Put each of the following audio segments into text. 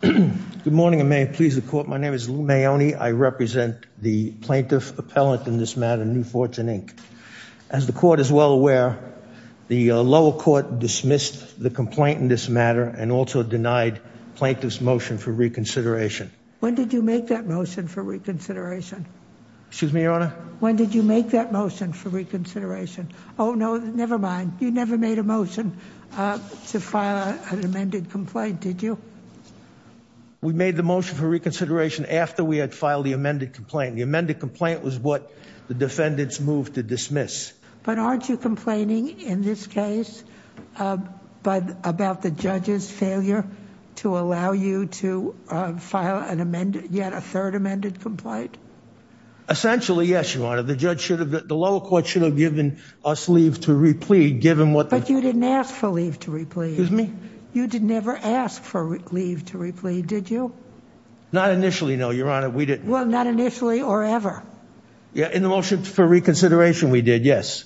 Good morning, and may it please the court. My name is Lou Maone. I represent the plaintiff appellant in this matter, New Fortune Inc. As the court is well aware, the lower court dismissed the complaint in this matter and also denied plaintiff's motion for reconsideration. When did you make that motion for reconsideration? Excuse me, Your Honor? When did you make that motion for reconsideration? Oh, no, nevermind. You never made a motion to file an amended complaint, did you? We made the motion for reconsideration after we had filed the amended complaint. The amended complaint was what the defendants moved to dismiss. But aren't you complaining in this case about the judge's failure to allow you to file yet a third amended complaint? Essentially, yes, Your Honor. The judge should have, the lower court should have given us leave to replead, given what the- But you didn't ask for leave to replead. Excuse me? You did never ask for leave to replead, did you? Not initially, no, Your Honor. We didn't. Well, not initially or ever. Yeah, in the motion for reconsideration, we did, yes.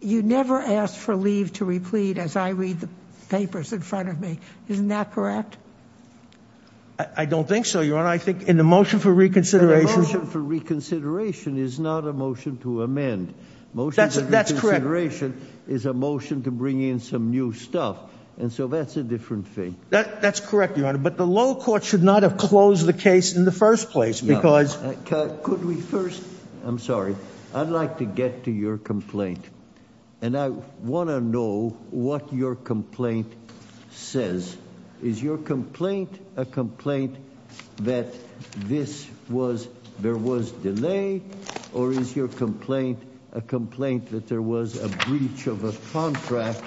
You never asked for leave to replead as I read the papers in front of me. Isn't that correct? I don't think so, Your Honor. I think in the motion for reconsideration- The motion for reconsideration is not a motion to amend. That's correct. Motion for reconsideration is a motion to bring in some new stuff. And so that's a different thing. That's correct, Your Honor, but the lower court should not have closed the case in the first place because- Could we first, I'm sorry, I'd like to get to your complaint. And I wanna know what your complaint says. Is your complaint a complaint that this was, there was delay, or is your complaint a complaint that there was a breach of a contract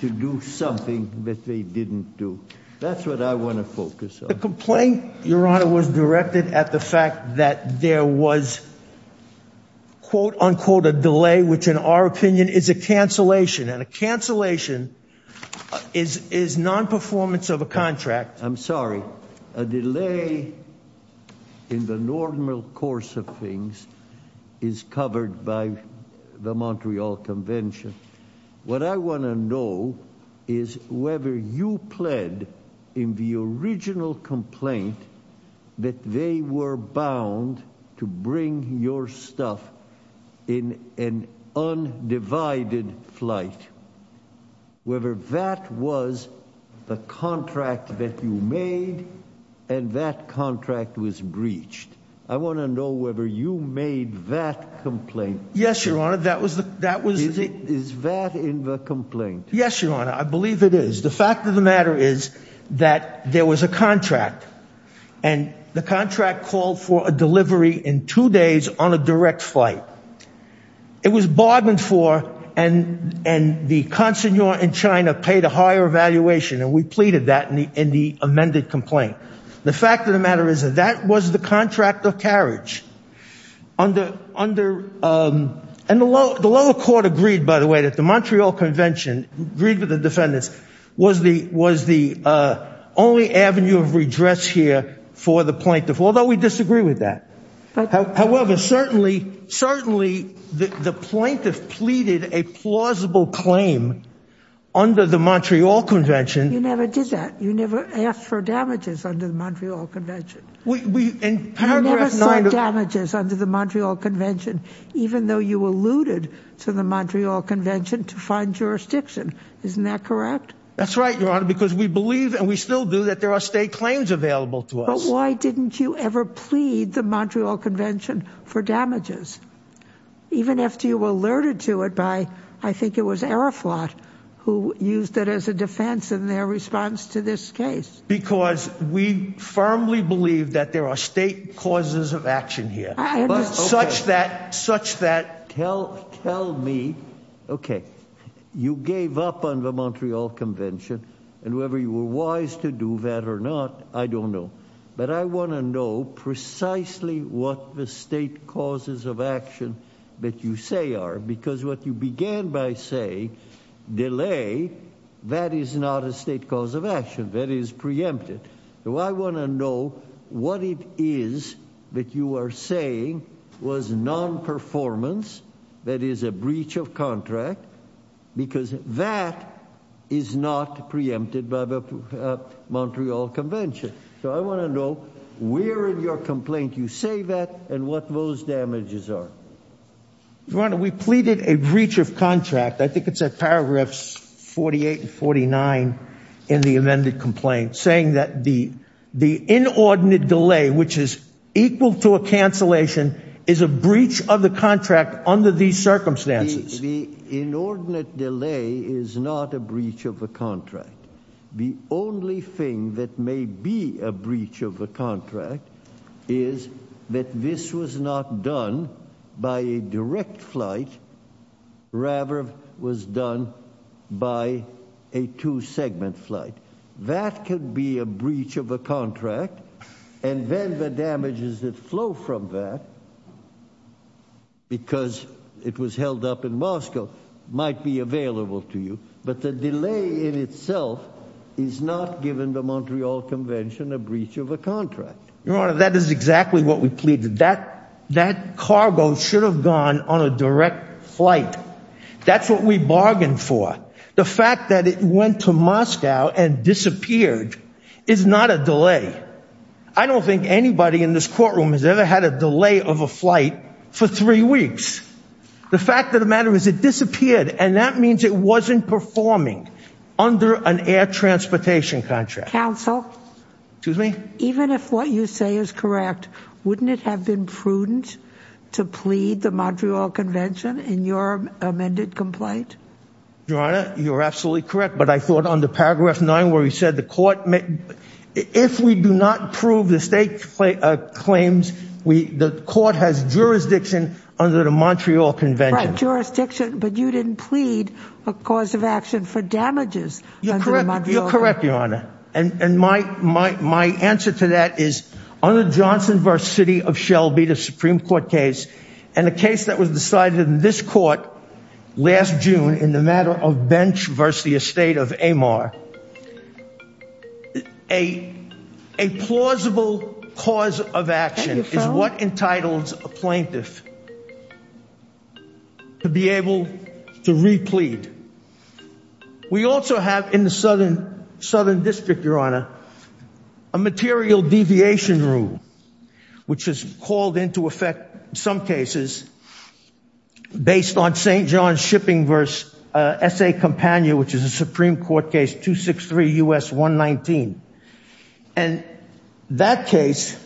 to do something that they didn't do? That's what I wanna focus on. The complaint, Your Honor, was directed at the fact that there was, quote, unquote, a delay, which in our opinion is a cancellation. And a cancellation is non-performance of a contract. I'm sorry, a delay in the normal course of things is covered by the Montreal Convention. What I wanna know is whether you pled in the original complaint that they were bound to bring your stuff in an undivided flight, whether that was the contract that you made and that contract was breached. I wanna know whether you made that complaint. Yes, Your Honor, that was the- Is that in the complaint? Yes, Your Honor, I believe it is. The fact of the matter is that there was a contract and the contract called for a delivery in two days on a direct flight. It was bargained for and the consignor in China paid a higher valuation. And we pleaded that in the amended complaint. The fact of the matter is that that was the contract of carriage. And the lower court agreed, by the way, that the Montreal Convention agreed with the defendants was the only avenue of redress here for the plaintiff, although we disagree with that. However, certainly the plaintiff pleaded a plausible claim under the Montreal Convention. You never did that. You never asked for damages under the Montreal Convention. We, in paragraph nine of- You never signed damages under the Montreal Convention, even though you alluded to the Montreal Convention to find jurisdiction, isn't that correct? That's right, Your Honor, because we believe and we still do that there are state claims available to us. But why didn't you ever plead the Montreal Convention for damages? Even after you were alerted to it by, I think it was Aeroflot who used it as a defense in their response to this case. Because we firmly believe that there are state causes of action here. I know, okay. Such that- Tell me, okay, you gave up on the Montreal Convention and whether you were wise to do that or not, I don't know. But I wanna know precisely what the state causes of action that you say are, because what you began by saying, delay, that is not a state cause of action, that is preempted. So I wanna know what it is that you are saying was non-performance, that is a breach of contract, because that is not preempted by the Montreal Convention. So I wanna know where in your complaint you say that and what those damages are. Your Honor, we pleaded a breach of contract, I think it's at paragraphs 48 and 49 in the amended complaint, saying that the inordinate delay, which is equal to a cancellation, is a breach of the contract under these circumstances. The inordinate delay is not a breach of a contract. The only thing that may be a breach of a contract is that this was not done by a direct flight, rather was done by a two-segment flight. That could be a breach of a contract, and then the damages that flow from that, because it was held up in Moscow, might be available to you. But the delay in itself is not given the Montreal Convention a breach of a contract. Your Honor, that is exactly what we pleaded. That cargo should have gone on a direct flight. That's what we bargained for. The fact that it went to Moscow and disappeared is not a delay. I don't think anybody in this courtroom has ever had a delay of a flight for three weeks. The fact of the matter is it disappeared, and that means it wasn't performing under an air transportation contract. Counsel? Excuse me? Even if what you say is correct, wouldn't it have been prudent to plead the Montreal Convention in your amended complaint? Your Honor, you're absolutely correct, but I thought under paragraph nine where you said the court, if we do not prove the state claims, the court has jurisdiction under the Montreal Convention. Right, jurisdiction, but you didn't plead a cause of action for damages under the Montreal Convention. You're correct, Your Honor. And my answer to that is, under Johnson v. City of Shelby, the Supreme Court case, and the case that was decided in this court last June in the matter of Bench v. The Estate of Amar, a plausible cause of action is what entitles a plaintiff to be able to replead. We also have in the Southern District, Your Honor, a material deviation rule, which is called into effect in some cases based on St. John's Shipping v. S.A. Compania, which is a Supreme Court case, 263 U.S. 119. And that case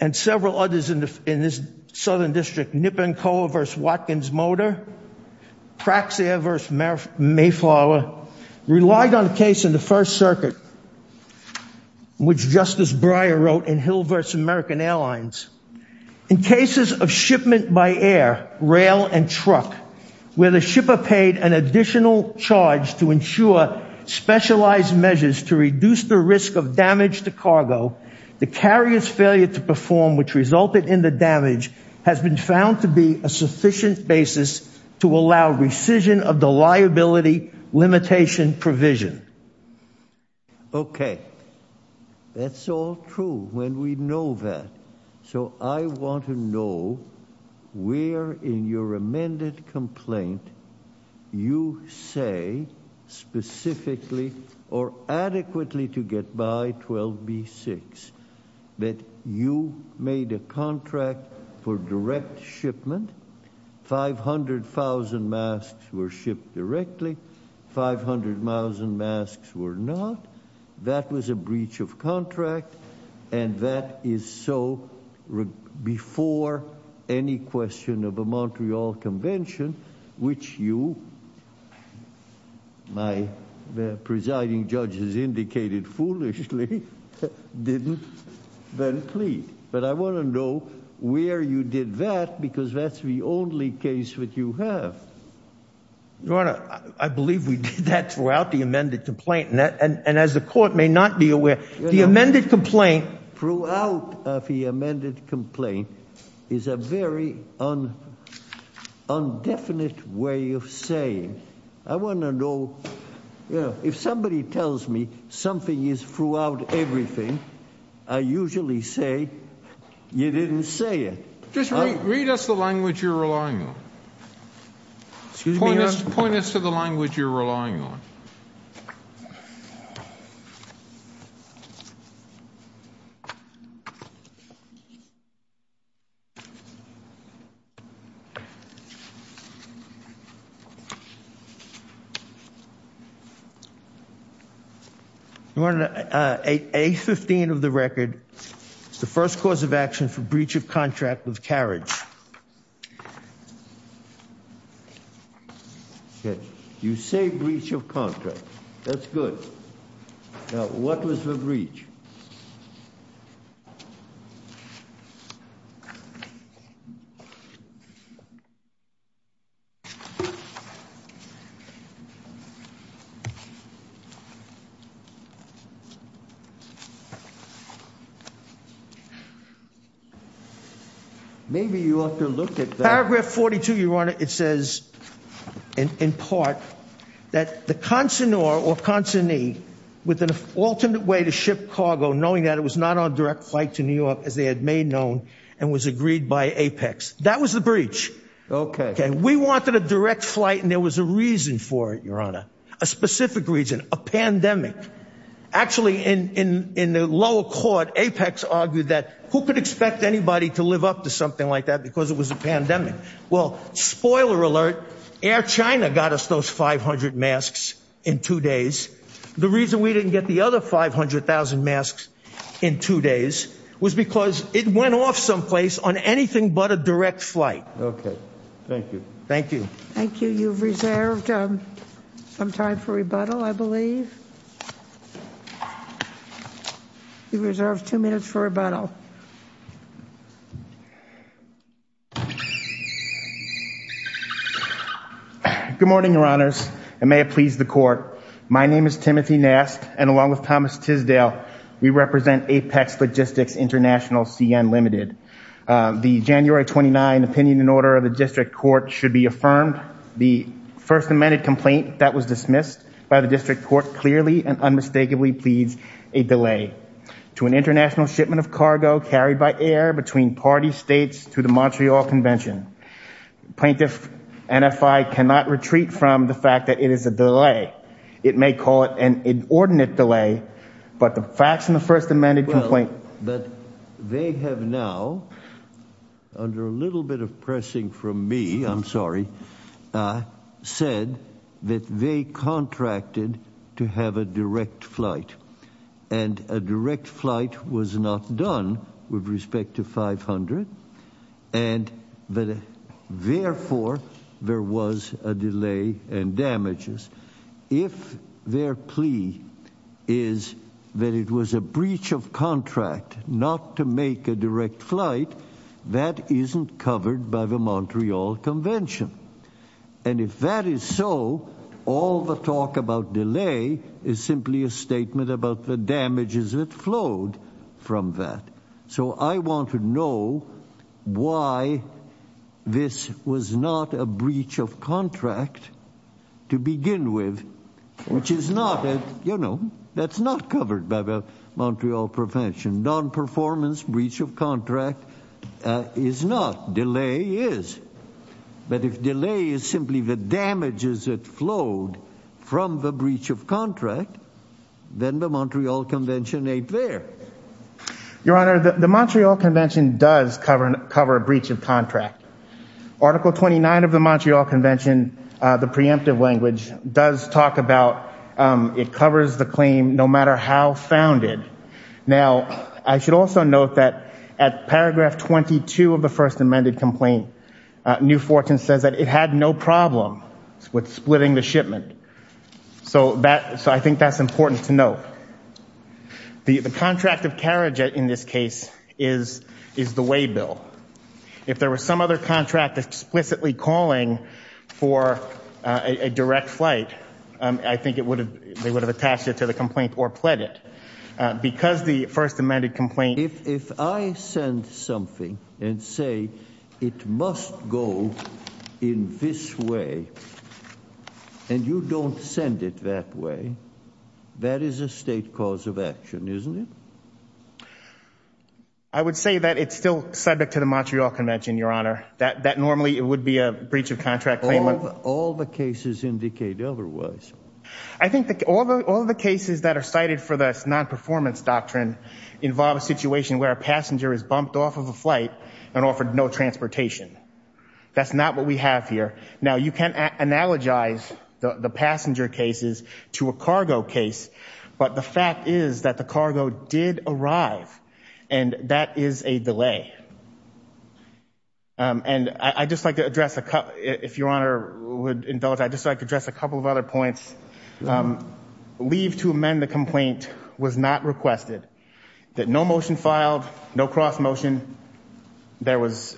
and several others in this Southern District, Niponkoa v. Watkins Motor, Praxair v. Mayflower, relied on a case in the First Circuit, which Justice Breyer wrote in Hill v. American Airlines. In cases of shipment by air, rail, and truck, where the shipper paid an additional charge to ensure specialized measures to reduce the risk of damage to cargo, the carrier's failure to perform, which resulted in the damage, has been found to be a sufficient basis to allow rescission of the liability limitation provision. Okay. That's all true when we know that. So I want to know where in your amended complaint you say specifically or adequately to get by 12b-6 that you made a contract for direct shipment. 500,000 masks were shipped directly. 500,000 masks were not. That was a breach of contract. And that is so before any question of a Montreal Convention, which you, my presiding judges indicated foolishly, didn't then plead. But I want to know where you did that, because that's the only case that you have. Your Honor, I believe we did that throughout the amended complaint, and as the court may not be aware, the amended complaint, throughout the amended complaint, is a very undefinite way of saying. I want to know, if somebody tells me something is throughout everything, I usually say, you didn't say it. Just read us the language you're relying on. Excuse me, Your Honor. Point us to the language you're relying on. Your Honor, A-15 of the record, the first cause of action for breach of contract was carriage. You say breach of contract. That's good. Now, what was the breach? Maybe you ought to look at that. Paragraph 42, Your Honor, it says, in part, that the consignor, or consignee, with an alternate way to ship cargo, knowing that it was not on direct flight to New York, as they had made known, and was agreed by Apex. That was the breach. Okay. We wanted a direct flight, and there was a reason for it, Your Honor. A specific reason, a pandemic. A pandemic. Actually, in the lower court, Apex argued that who could expect anybody to live up to something like that because it was a pandemic? Well, spoiler alert, Air China got us those 500 masks in two days. The reason we didn't get the other 500,000 masks in two days was because it went off someplace on anything but a direct flight. Okay, thank you. Thank you. Thank you. You've reserved some time for rebuttal, I believe. You've reserved two minutes for rebuttal. Good morning, Your Honors, and may it please the court. My name is Timothy Nask, and along with Thomas Tisdale, we represent Apex Logistics International CN Limited. The January 29 opinion in order of the district court should be affirmed. The first amended complaint that was dismissed by the district court clearly and unmistakably pleads a delay to an international shipment of cargo carried by air between party states to the Montreal Convention. Plaintiff NFI cannot retreat from the fact that it is a delay. It may call it an inordinate delay, but the facts in the first amended complaint. But they have now, under a little bit of pressing from me, I'm sorry, said that they contracted to have a direct flight, and a direct flight was not done with respect to 500, and that therefore there was a delay and damages. If their plea is that it was a breach of contract not to make a direct flight, that isn't covered by the Montreal Convention. And if that is so, all the talk about delay is simply a statement about the damages that flowed from that. So I want to know why this was not a breach of contract to begin with, which is not, you know, that's not covered by the Montreal Convention. Non-performance breach of contract is not, delay is. But if delay is simply the damages that flowed from the breach of contract, then the Montreal Convention ain't there. Your Honor, the Montreal Convention does cover a breach of contract. Article 29 of the Montreal Convention, the preemptive language, does talk about, it covers the claim no matter how founded. Now, I should also note that at paragraph 22 of the first amended complaint, New Fortune says that it had no problem with splitting the shipment. So I think that's important to note. The contract of carriage in this case is the waybill. If there was some other contract explicitly calling for a direct flight, I think they would have attached it to the complaint or pled it. Because the first amended complaint. If I send something and say it must go in this way and you don't send it that way, that is a state cause of action, isn't it? I would say that it's still subject to the Montreal Convention, Your Honor. That normally it would be a breach of contract claim. All the cases indicate otherwise. I think that all the cases that are cited for this non-performance doctrine involve a situation where a passenger is bumped off of a flight and offered no transportation. That's not what we have here. Now, you can't analogize the passenger cases to a cargo case, but the fact is that the cargo did arrive and that is a delay. And I'd just like to address, if Your Honor would indulge, I'd just like to address a couple of other points. Leave to amend the complaint was not requested. That no motion filed, no cross-motion. There was,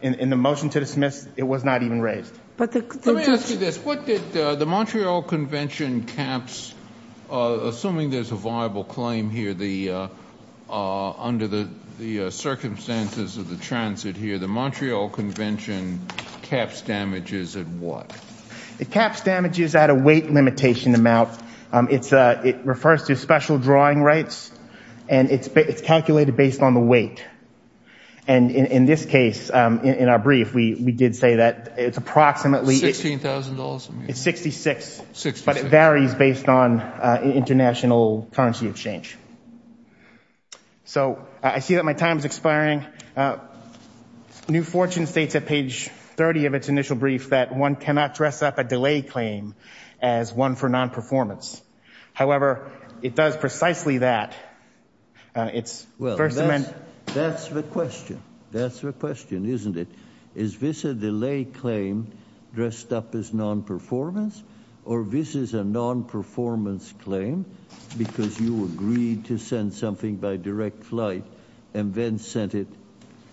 in the motion to dismiss, it was not even raised. But the- Let me ask you this. What did the Montreal Convention caps, assuming there's a viable claim here under the circumstances of the transit here, the Montreal Convention caps damages at what? It caps damages at a weight limitation amount. It refers to special drawing rights and it's calculated based on the weight. And in this case, in our brief, we did say that it's approximately- $16,000? It's 66. 66. But it varies based on international currency exchange. So I see that my time is expiring. New Fortune states at page 30 of its initial brief that one cannot dress up a delay claim as one for non-performance. However, it does precisely that. It's- Well, that's the question. That's the question, isn't it? Is this a delay claim dressed up as non-performance or this is a non-performance claim because you agreed to send something by direct flight and then sent it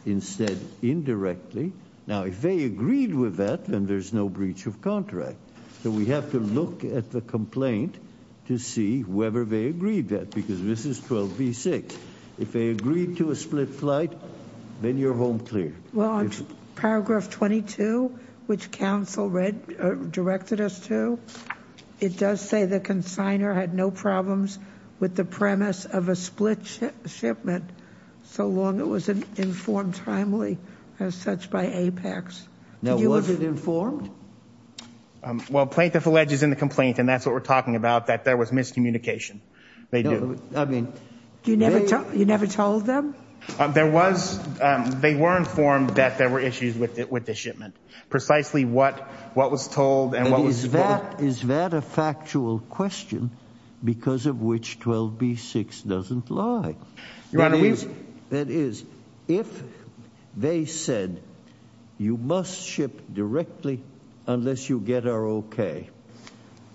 instead indirectly? Now, if they agreed with that, then there's no breach of contract. So we have to look at the complaint to see whether they agreed that because this is 12B6. If they agreed to a split flight, then you're home clear. Well, on paragraph 22, which council directed us to, it does say the consigner had no problems with the premise of a split shipment so long it was informed timely as such by Apex. Now, was it informed? Well, plaintiff alleges in the complaint, and that's what we're talking about, that there was miscommunication. They do. I mean- You never told them? There was, they were informed that there were issues with the shipment. Precisely what was told and what was- Is that a factual question because of which 12B6 doesn't lie? Your Honor, we- That is, if they said you must ship directly unless you get our okay,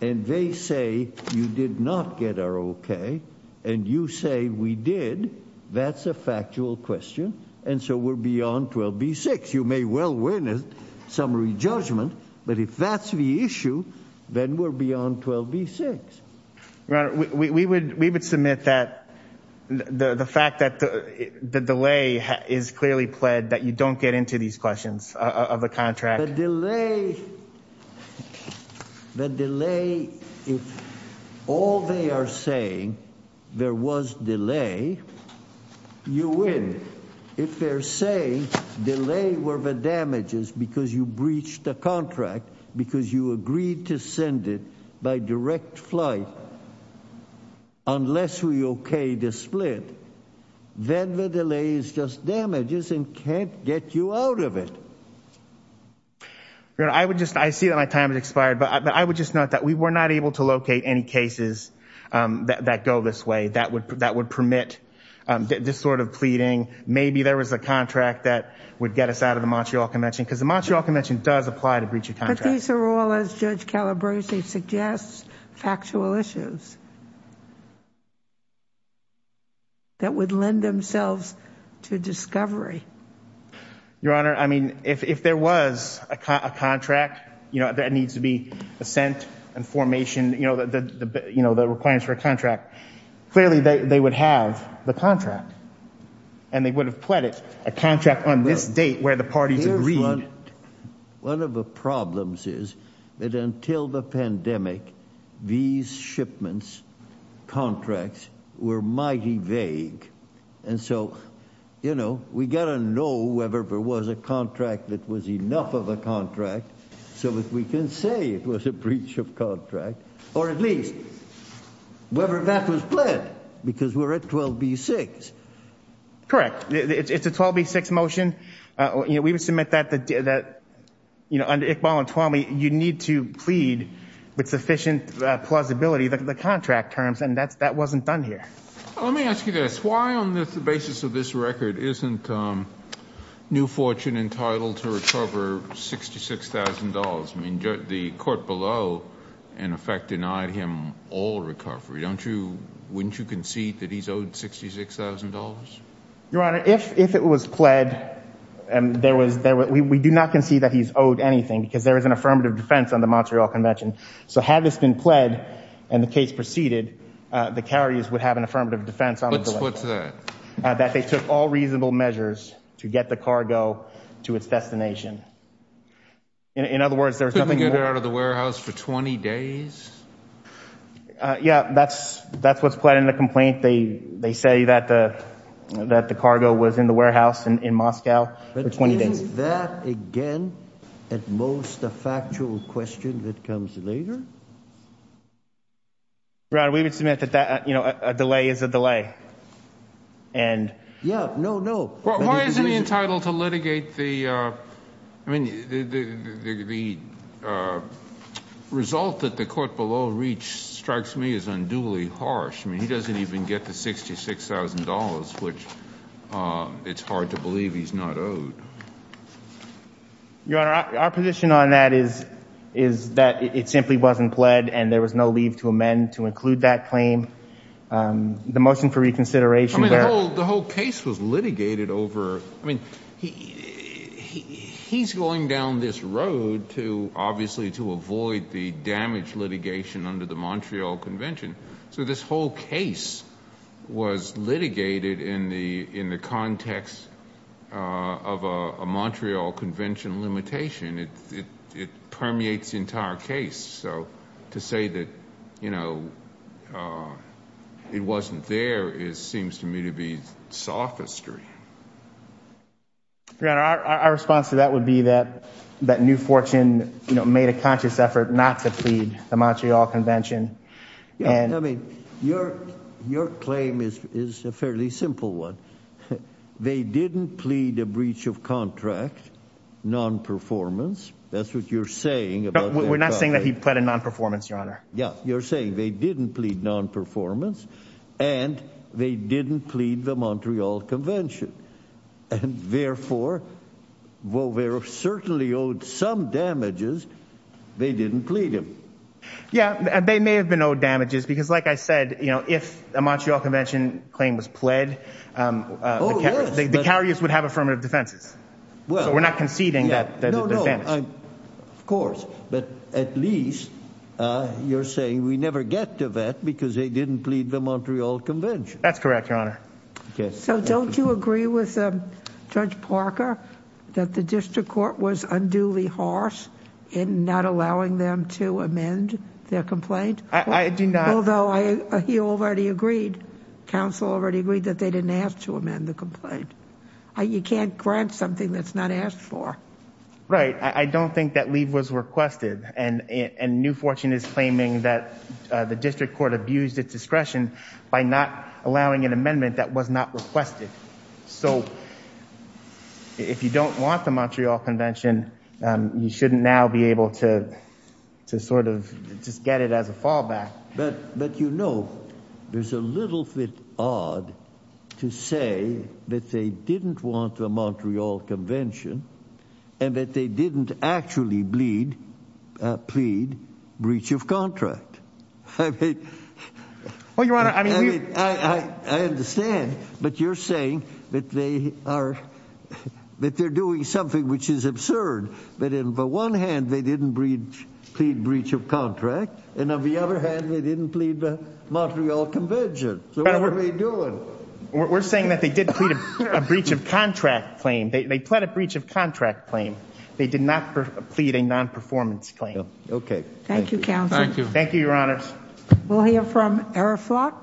and they say you did not get our okay, and you say we did, that's a factual question, and so we're beyond 12B6. You may well win a summary judgment, but if that's the issue, then we're beyond 12B6. Your Honor, we would submit that the fact that the delay is clearly pled that you don't get into these questions of the contract. The delay, the delay, if all they are saying there was delay, you win. If they're saying delay were the damages because you breached the contract, because you agreed to send it by direct flight, unless we okay the split, then the delay is just damages and can't get you out of it. Your Honor, I would just, I see that my time has expired, but I would just note that we were not able to locate any cases that go this way that would permit this sort of pleading. Maybe there was a contract that would get us out of the Montreal Convention because the Montreal Convention does apply to breach of contract. But these are all, as Judge Calabrese suggests, factual issues that would lend themselves to discovery. Your Honor, I mean, if there was a contract that needs to be sent and formation, the requirements for a contract, clearly they would have the contract, and they would have pledged a contract on this date where the parties agreed. One of the problems is that until the pandemic, these shipments contracts were mighty vague. And so, you know, we got to know whether there was a contract that was enough of a contract so that we can say it was a breach of contract, or at least whether that was pled because we're at 12B6. Correct, it's a 12B6 motion. We would submit that under Iqbal and Twamey, you need to plead with sufficient plausibility, the contract terms, and that wasn't done here. Let me ask you this. Why on the basis of this record isn't New Fortune entitled to recover $66,000? I mean, the court below, in effect, denied him all recovery, don't you? Wouldn't you concede that he's owed $66,000? Your Honor, if it was pled, and we do not concede that he's owed anything because there is an affirmative defense on the Montreal Convention. So had this been pled and the case proceeded, the carriers would have an affirmative defense on the delivery. What's that? That they took all reasonable measures to get the cargo to its destination. In other words, there's nothing more- Couldn't get it out of the warehouse for 20 days? Yeah, that's what's pled in the complaint. They say that the cargo was in the warehouse in Moscow for 20 days. But isn't that, again, at most, a factual question that comes later? Your Honor, we would submit that a delay is a delay. Yeah, no, no. Why isn't he entitled to litigate the, I mean, the result that the court below reached strikes me as unduly harsh. I mean, he doesn't even get the $66,000, which it's hard to believe he's not owed. Your Honor, our position on that is that it simply wasn't pled and there was no leave to amend to include that claim. The motion for reconsideration- I mean, the whole case was litigated over, I mean, he's going down this road to, obviously, to avoid the damage litigation under the Montreal Convention. So this whole case was litigated in the context of a Montreal Convention limitation. It permeates the entire case. So to say that, you know, it wasn't there seems to me to be sophistry. Your Honor, our response to that would be that that New Fortune, you know, made a conscious effort not to plead the Montreal Convention. Yeah, I mean, your claim is a fairly simple one. They didn't plead a breach of contract, non-performance. That's what you're saying about- We're not saying that he pled in non-performance, Your Honor. Yeah, you're saying they didn't plead non-performance and they didn't plead the Montreal Convention. And therefore, while they're certainly owed some damages, they didn't plead him. Yeah, and they may have been owed damages because like I said, you know, if a Montreal Convention claim was pled, the carriers would have affirmative defenses. Well, we're not conceding that- No, no, of course. But at least you're saying we never get to that because they didn't plead the Montreal Convention. That's correct, Your Honor. So don't you agree with Judge Parker that the district court was unduly harsh in not allowing them to amend their complaint? I do not- Although he already agreed, counsel already agreed that they didn't ask to amend the complaint. You can't grant something that's not asked for. Right, I don't think that leave was requested and New Fortune is claiming that the district court abused its discretion by not allowing an amendment that was not requested. So if you don't want the Montreal Convention, you shouldn't now be able to sort of just get it as a fallback. But you know, there's a little bit odd to say that they didn't want the Montreal Convention and that they didn't actually plead breach of contract. I mean- Well, Your Honor, I mean- I understand, but you're saying that they are, that they're doing something which is absurd, that on the one hand, they didn't plead breach of contract. And on the other hand, they didn't plead the Montreal Convention. So what were they doing? We're saying that they did plead a breach of contract claim. They pled a breach of contract claim. They did not plead a non-performance claim. Okay. Thank you, counsel. Thank you, Your Honors. We'll hear from Araflot.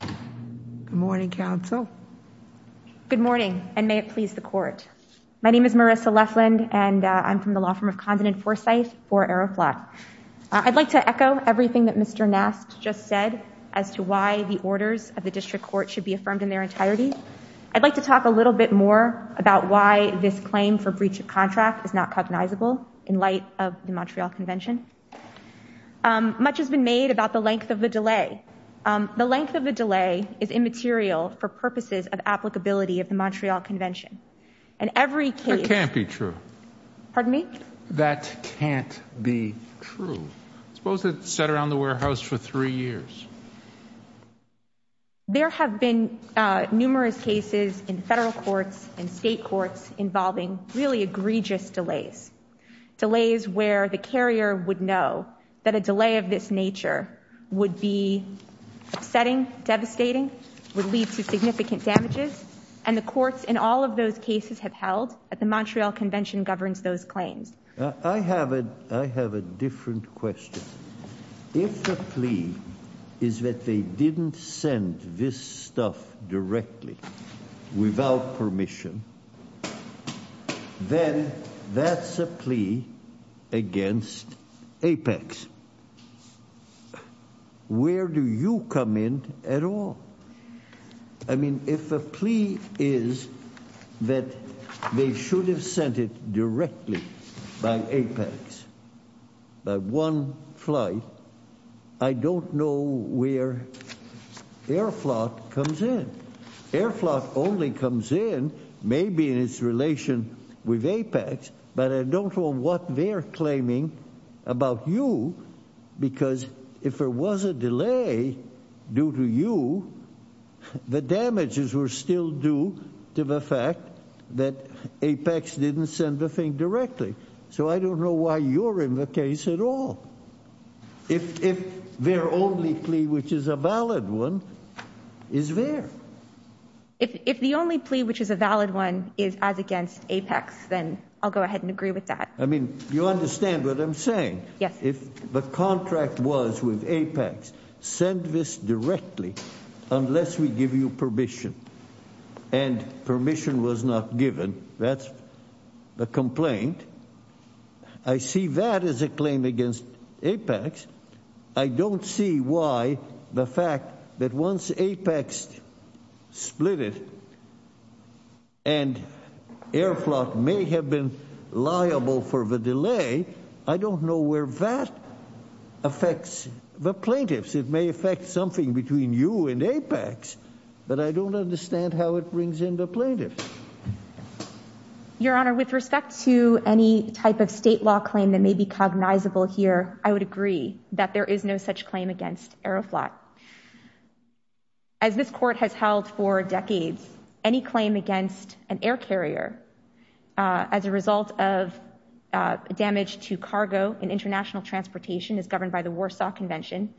Good morning, counsel. Good morning, and may it please the court. My name is Marissa Lefland, and I'm from the law firm of Condon and Forsyth for Araflot. I'd like to echo everything that Mr. Nast just said as to why the orders of the district court should be affirmed in their entirety. I'd like to talk a little bit more about why this claim for breach of contract is not cognizable in light of the Montreal Convention. Much has been made about the length of the delay. The length of the delay is immaterial for purposes of applicability of the Montreal Convention. And every case- That can't be true. Pardon me? That can't be true. Suppose it sat around the warehouse for three years. There have been numerous cases in federal courts, in state courts, involving really egregious delays. Delays where the carrier would know that a delay of this nature would be upsetting, devastating, would lead to significant damages. And the courts in all of those cases have held that the Montreal Convention governs those claims. I have a different question. If the plea is that they didn't send this stuff directly without permission, then that's a plea against APEX. Where do you come in at all? I mean, if a plea is that they should have sent it directly by APEX, by one flight, I don't know where Air Flot comes in. Air Flot only comes in maybe in its relation with APEX, but I don't know what they're claiming about you because if there was a delay due to you, the damages were still due to the fact that APEX didn't send the thing directly. So I don't know why you're in the case at all. If their only plea, which is a valid one, is there. If the only plea, which is a valid one, is as against APEX, then I'll go ahead and agree with that. I mean, you understand what I'm saying? Yes. If the contract was with APEX, send this directly unless we give you permission. And permission was not given. That's the complaint. I see that as a claim against APEX. I don't see why the fact that once APEX split it and Air Flot may have been liable for the delay, I don't know where that affects the plaintiffs. It may affect something between you and APEX, but I don't understand how it brings in the plaintiffs. Your Honor, with respect to any type of state law claim that may be cognizable here, I would agree that there is no such claim against Air Flot. As this court has held for decades, any claim against an air carrier as a result of damage to cargo in international transportation is governed by the Warsaw Convention.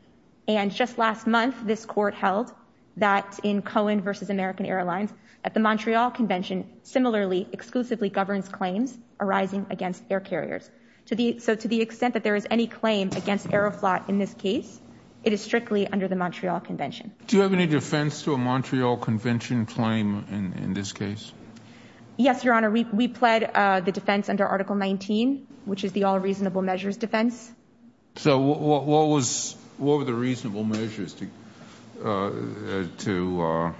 And just last month, this court held that in Cohen versus American Airlines, at the Montreal Convention, similarly exclusively governs claims arising against air carriers. So to the extent that there is any claim against Air Flot in this case, it is strictly under the Montreal Convention. Do you have any defense to a Montreal Convention claim in this case? Yes, Your Honor. We pled the defense under Article 19, which is the all reasonable measures defense. So what were the reasonable measures to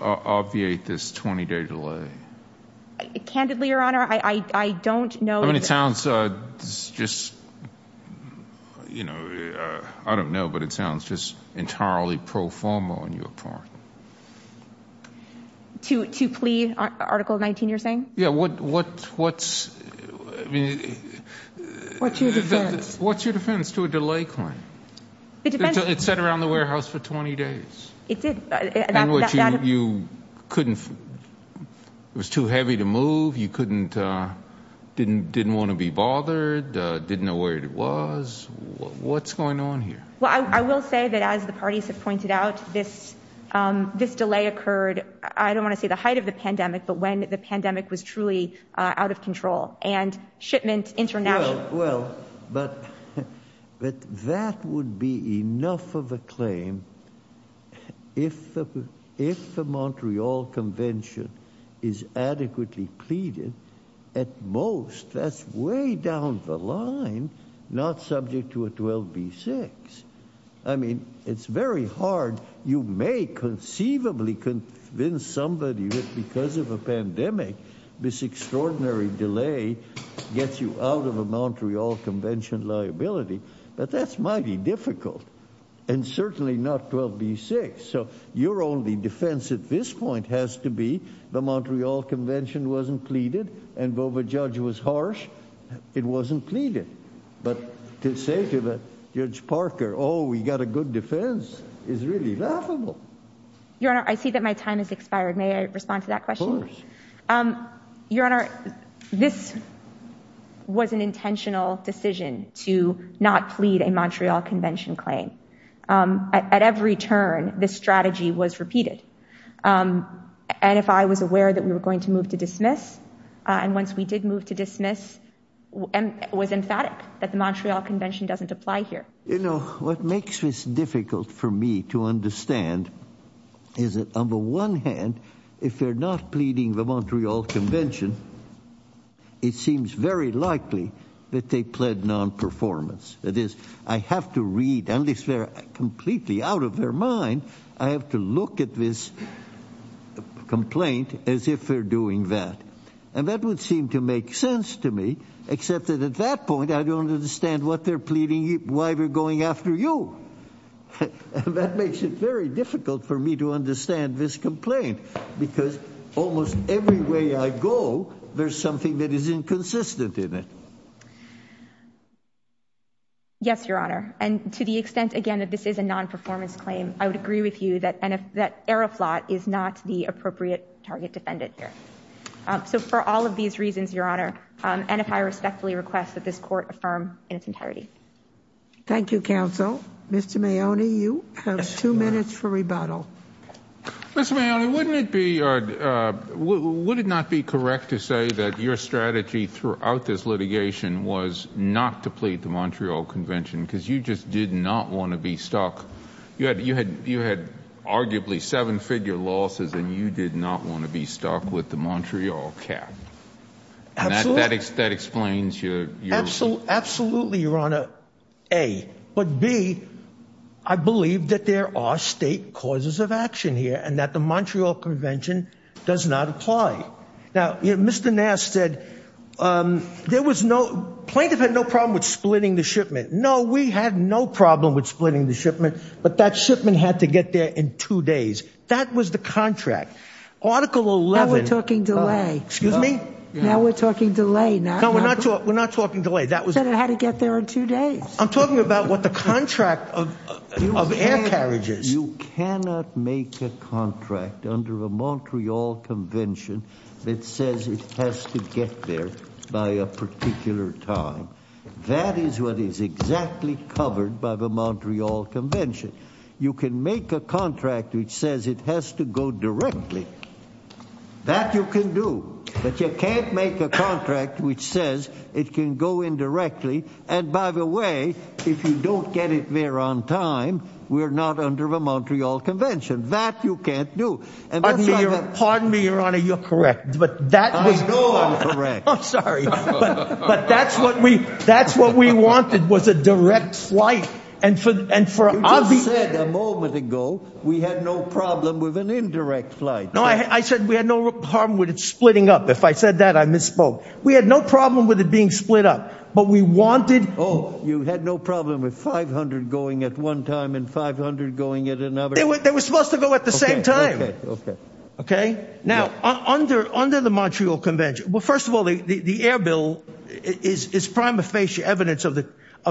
obviate this 20-day delay? Candidly, Your Honor, I don't know. I mean, it sounds just, you know, I don't know, but it sounds just entirely pro-forma on your part. To plea Article 19, you're saying? Yeah, what's, I mean. What's your defense? What's your defense to a delay claim? It depends. It sat around the warehouse for 20 days. It did. In which you couldn't, it was too heavy to move. You couldn't, didn't want to be bothered, didn't know where it was. What's going on here? Well, I will say that as the parties have pointed out, this delay occurred, I don't want to say the height of the pandemic, but when the pandemic was truly out of control and shipment international. Well, but that would be enough of a claim if the Montreal Convention is adequately pleading at most that's way down the line, not subject to a 12 B six. I mean, it's very hard. You may conceivably convince somebody that because of a pandemic, this extraordinary delay gets you out of a Montreal Convention liability, but that's mighty difficult and certainly not 12 B six. So your only defense at this point has to be the Montreal Convention wasn't pleaded and Bova judge was harsh. It wasn't pleaded. But to say to the judge Parker, oh, we got a good defense is really laughable. Your Honor, I see that my time is expired. May I respond to that question? Of course. Your Honor, this was an intentional decision to not plead a Montreal Convention claim. At every turn, this strategy was repeated. And if I was aware that we were going to move to dismiss, and once we did move to dismiss, and was emphatic that the Montreal Convention doesn't apply here. You know, what makes this difficult for me to understand is that on the one hand, if they're not pleading the Montreal Convention, it seems very likely that they pled non-performance. That is, I have to read, unless they're completely out of their mind, I have to look at this complaint as if they're doing that. And that would seem to make sense to me, except that at that point, I don't understand what they're pleading, why we're going after you. That makes it very difficult for me to understand this complaint, because almost every way I go, there's something that is inconsistent in it. Yes, Your Honor. And to the extent, again, that this is a non-performance claim, I would agree with you that Aeroflot is not the appropriate target defendant here. So for all of these reasons, Your Honor, and if I respectfully request that this court affirm in its entirety. Thank you, counsel. Mr. Maione, you have two minutes for rebuttal. Mr. Maione, wouldn't it be, would it not be correct to say that your strategy throughout this litigation was not to plead the Montreal Convention, because you just did not want to be stuck. You had arguably seven-figure losses, and you did not want to be stuck with the Montreal cap. Absolutely. That explains your... Absolutely, Your Honor, A. But B, I believe that there are state causes of action here, and that the Montreal Convention does not apply. Now, Mr. Nass said, there was no, plaintiff had no problem with splitting the shipment. No, we had no problem with splitting the shipment, but that shipment had to get there in two days. That was the contract. Article 11... Now we're talking delay. Excuse me? Now we're talking delay, not... No, we're not talking delay. That was... Senate had to get there in two days. I'm talking about what the contract of air carriages. You cannot make a contract under a Montreal Convention that says it has to get there by a particular time. That is what is exactly covered by the Montreal Convention. You can make a contract which says it has to go directly. That you can do, but you can't make a contract which says it can go indirectly, and by the way, if you don't get it there on time, we're not under the Montreal Convention. That you can't do. And that's not... Pardon me, Your Honor, you're correct, but that was... I know I'm correct. I'm sorry. But that's what we wanted, was a direct flight. And for... You just said a moment ago, we had no problem with an indirect flight. No, I said we had no problem with it splitting up. If I said that, I misspoke. We had no problem with it being split up, but we wanted... Oh, you had no problem with 500 going at one time and 500 going at another? They were supposed to go at the same time. Okay? Now, under the Montreal Convention, well, first of all, the air bill is prima facie evidence of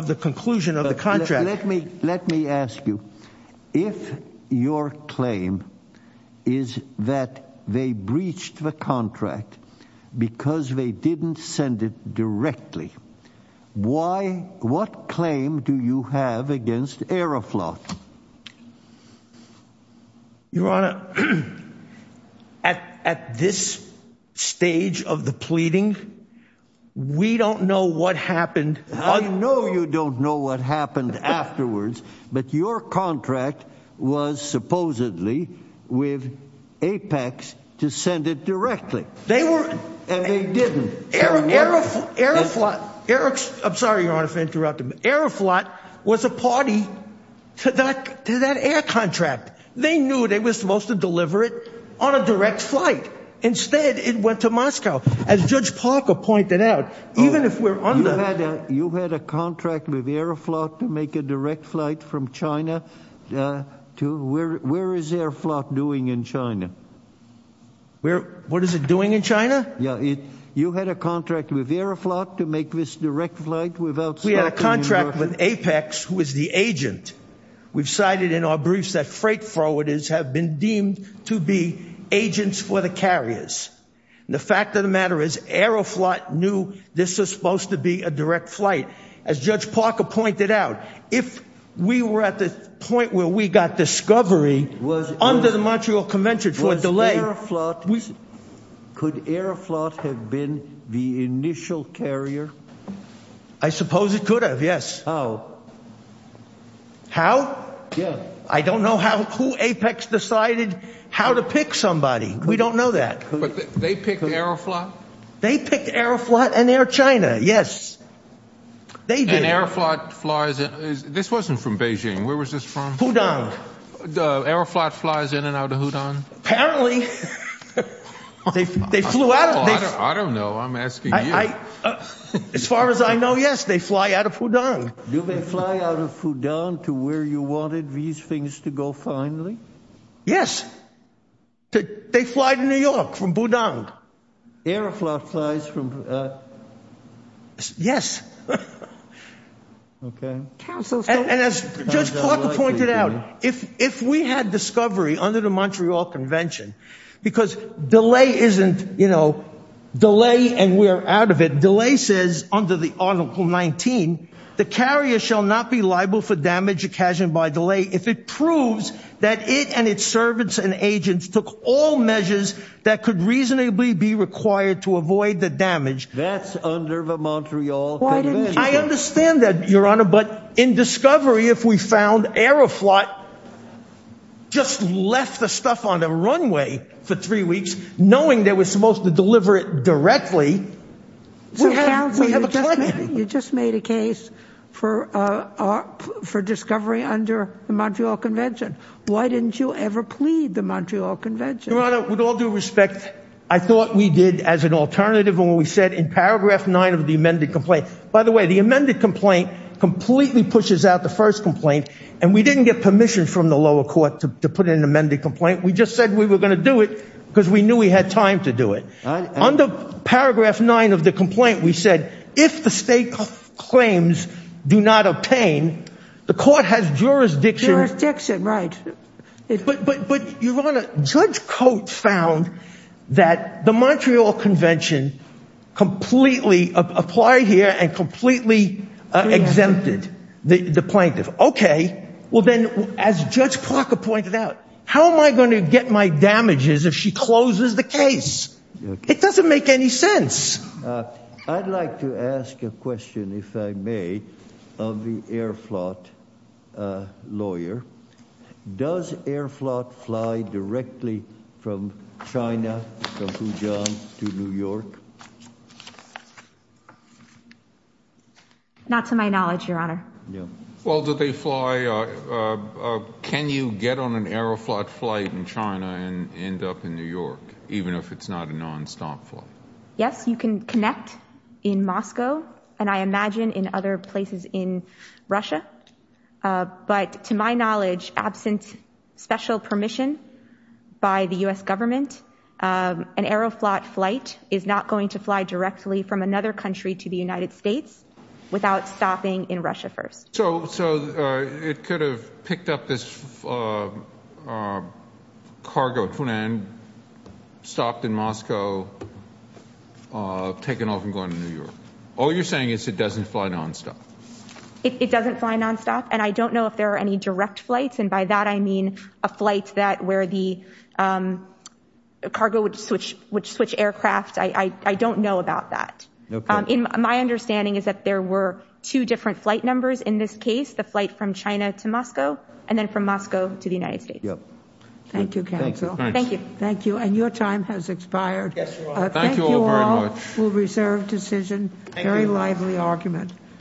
the conclusion of the contract. Let me ask you, if your claim is that they breached the contract because they didn't send it directly, what claim do you have against Aeroflot? Your Honor, Your Honor, at this stage of the pleading, we don't know what happened. I know you don't know what happened afterwards, but your contract was supposedly with Apex to send it directly. They were... And they didn't. Aeroflot, Aero... I'm sorry, Your Honor, if I interrupted. Aeroflot was a party to that air contract. They knew they were supposed to deliver it on a direct flight. Instead, it went to Moscow. As Judge Parker pointed out, even if we're under... You had a contract with Aeroflot to make a direct flight from China to... Where is Aeroflot doing in China? What is it doing in China? Yeah, you had a contract with Aeroflot to make this direct flight without stopping... We had a contract with Apex, who is the agent. We've cited in our briefs that freight forwarders have been deemed to be agents for the carriers. The fact of the matter is Aeroflot knew this was supposed to be a direct flight. As Judge Parker pointed out, if we were at the point where we got discovery under the Montreal Convention for a delay... Was Aeroflot... Could Aeroflot have been the initial carrier? I suppose it could have, yes. How? How? Yeah. I don't know who Apex decided how to pick somebody. We don't know that. They picked Aeroflot? They picked Aeroflot and Air China, yes. They did. And Aeroflot flies... This wasn't from Beijing. Where was this from? Hudong. Aeroflot flies in and out of Hudong? Apparently. They flew out of... I don't know. I'm asking you. As far as I know, yes. They fly out of Hudong. Do they fly out of Hudong to where you wanted these things to go finally? Yes. They fly to New York from Hudong. Aeroflot flies from... Yes. Okay. And as Judge Parker pointed out, if we had discovery under the Montreal Convention, because delay isn't, you know, delay and we're out of it. Delay says under the Article 19, the carrier shall not be liable for damage occasioned by delay if it proves that it and its servants and agents took all measures that could reasonably be required to avoid the damage. That's under the Montreal Convention. I understand that, Your Honor, but in discovery, if we found Aeroflot just left the stuff on the runway for three weeks, knowing they were supposed to deliver it directly, we have a claim. You just made a case for discovery under the Montreal Convention. Why didn't you ever plead the Montreal Convention? Your Honor, with all due respect, I thought we did as an alternative when we said in paragraph nine of the amended complaint. By the way, the amended complaint completely pushes out the first complaint and we didn't get permission from the lower court to put in an amended complaint. We just said we were gonna do it because we knew we had time to do it. Under paragraph nine of the complaint, we said if the state claims do not obtain, the court has jurisdiction. Jurisdiction, right. But, Your Honor, Judge Coates found that the Montreal Convention completely applied here and completely exempted the plaintiff. Okay, well then, as Judge Parker pointed out, how am I gonna get my damages if she closes the case? It doesn't make any sense. I'd like to ask a question, if I may, of the air-flot lawyer. Does air-flot fly directly from China, from Wuhan to New York? Not to my knowledge, Your Honor. Well, do they fly, can you get on an air-flot flight in China and end up in New York, even if it's not a non-stop flight? Yes, you can connect in Moscow and, I imagine, in other places in Russia. But, to my knowledge, absent special permission by the U.S. government, an air-flot flight is not going to fly directly from another country to the United States without stopping in Russia first. So, it could have picked up this cargo, or it could have stopped in Moscow, taken off and gone to New York. All you're saying is it doesn't fly non-stop. It doesn't fly non-stop, and I don't know if there are any direct flights, and by that, I mean a flight that, where the cargo would switch aircraft. I don't know about that. My understanding is that there were two different flight numbers in this case, the flight from China to Moscow, and then from Moscow to the United States. Yep. Thank you, counsel. Thank you. Thank you, and your time has expired. Yes, Your Honor. Thank you all very much. Thank you all. We'll reserve decision. Thank you. Very lively argument.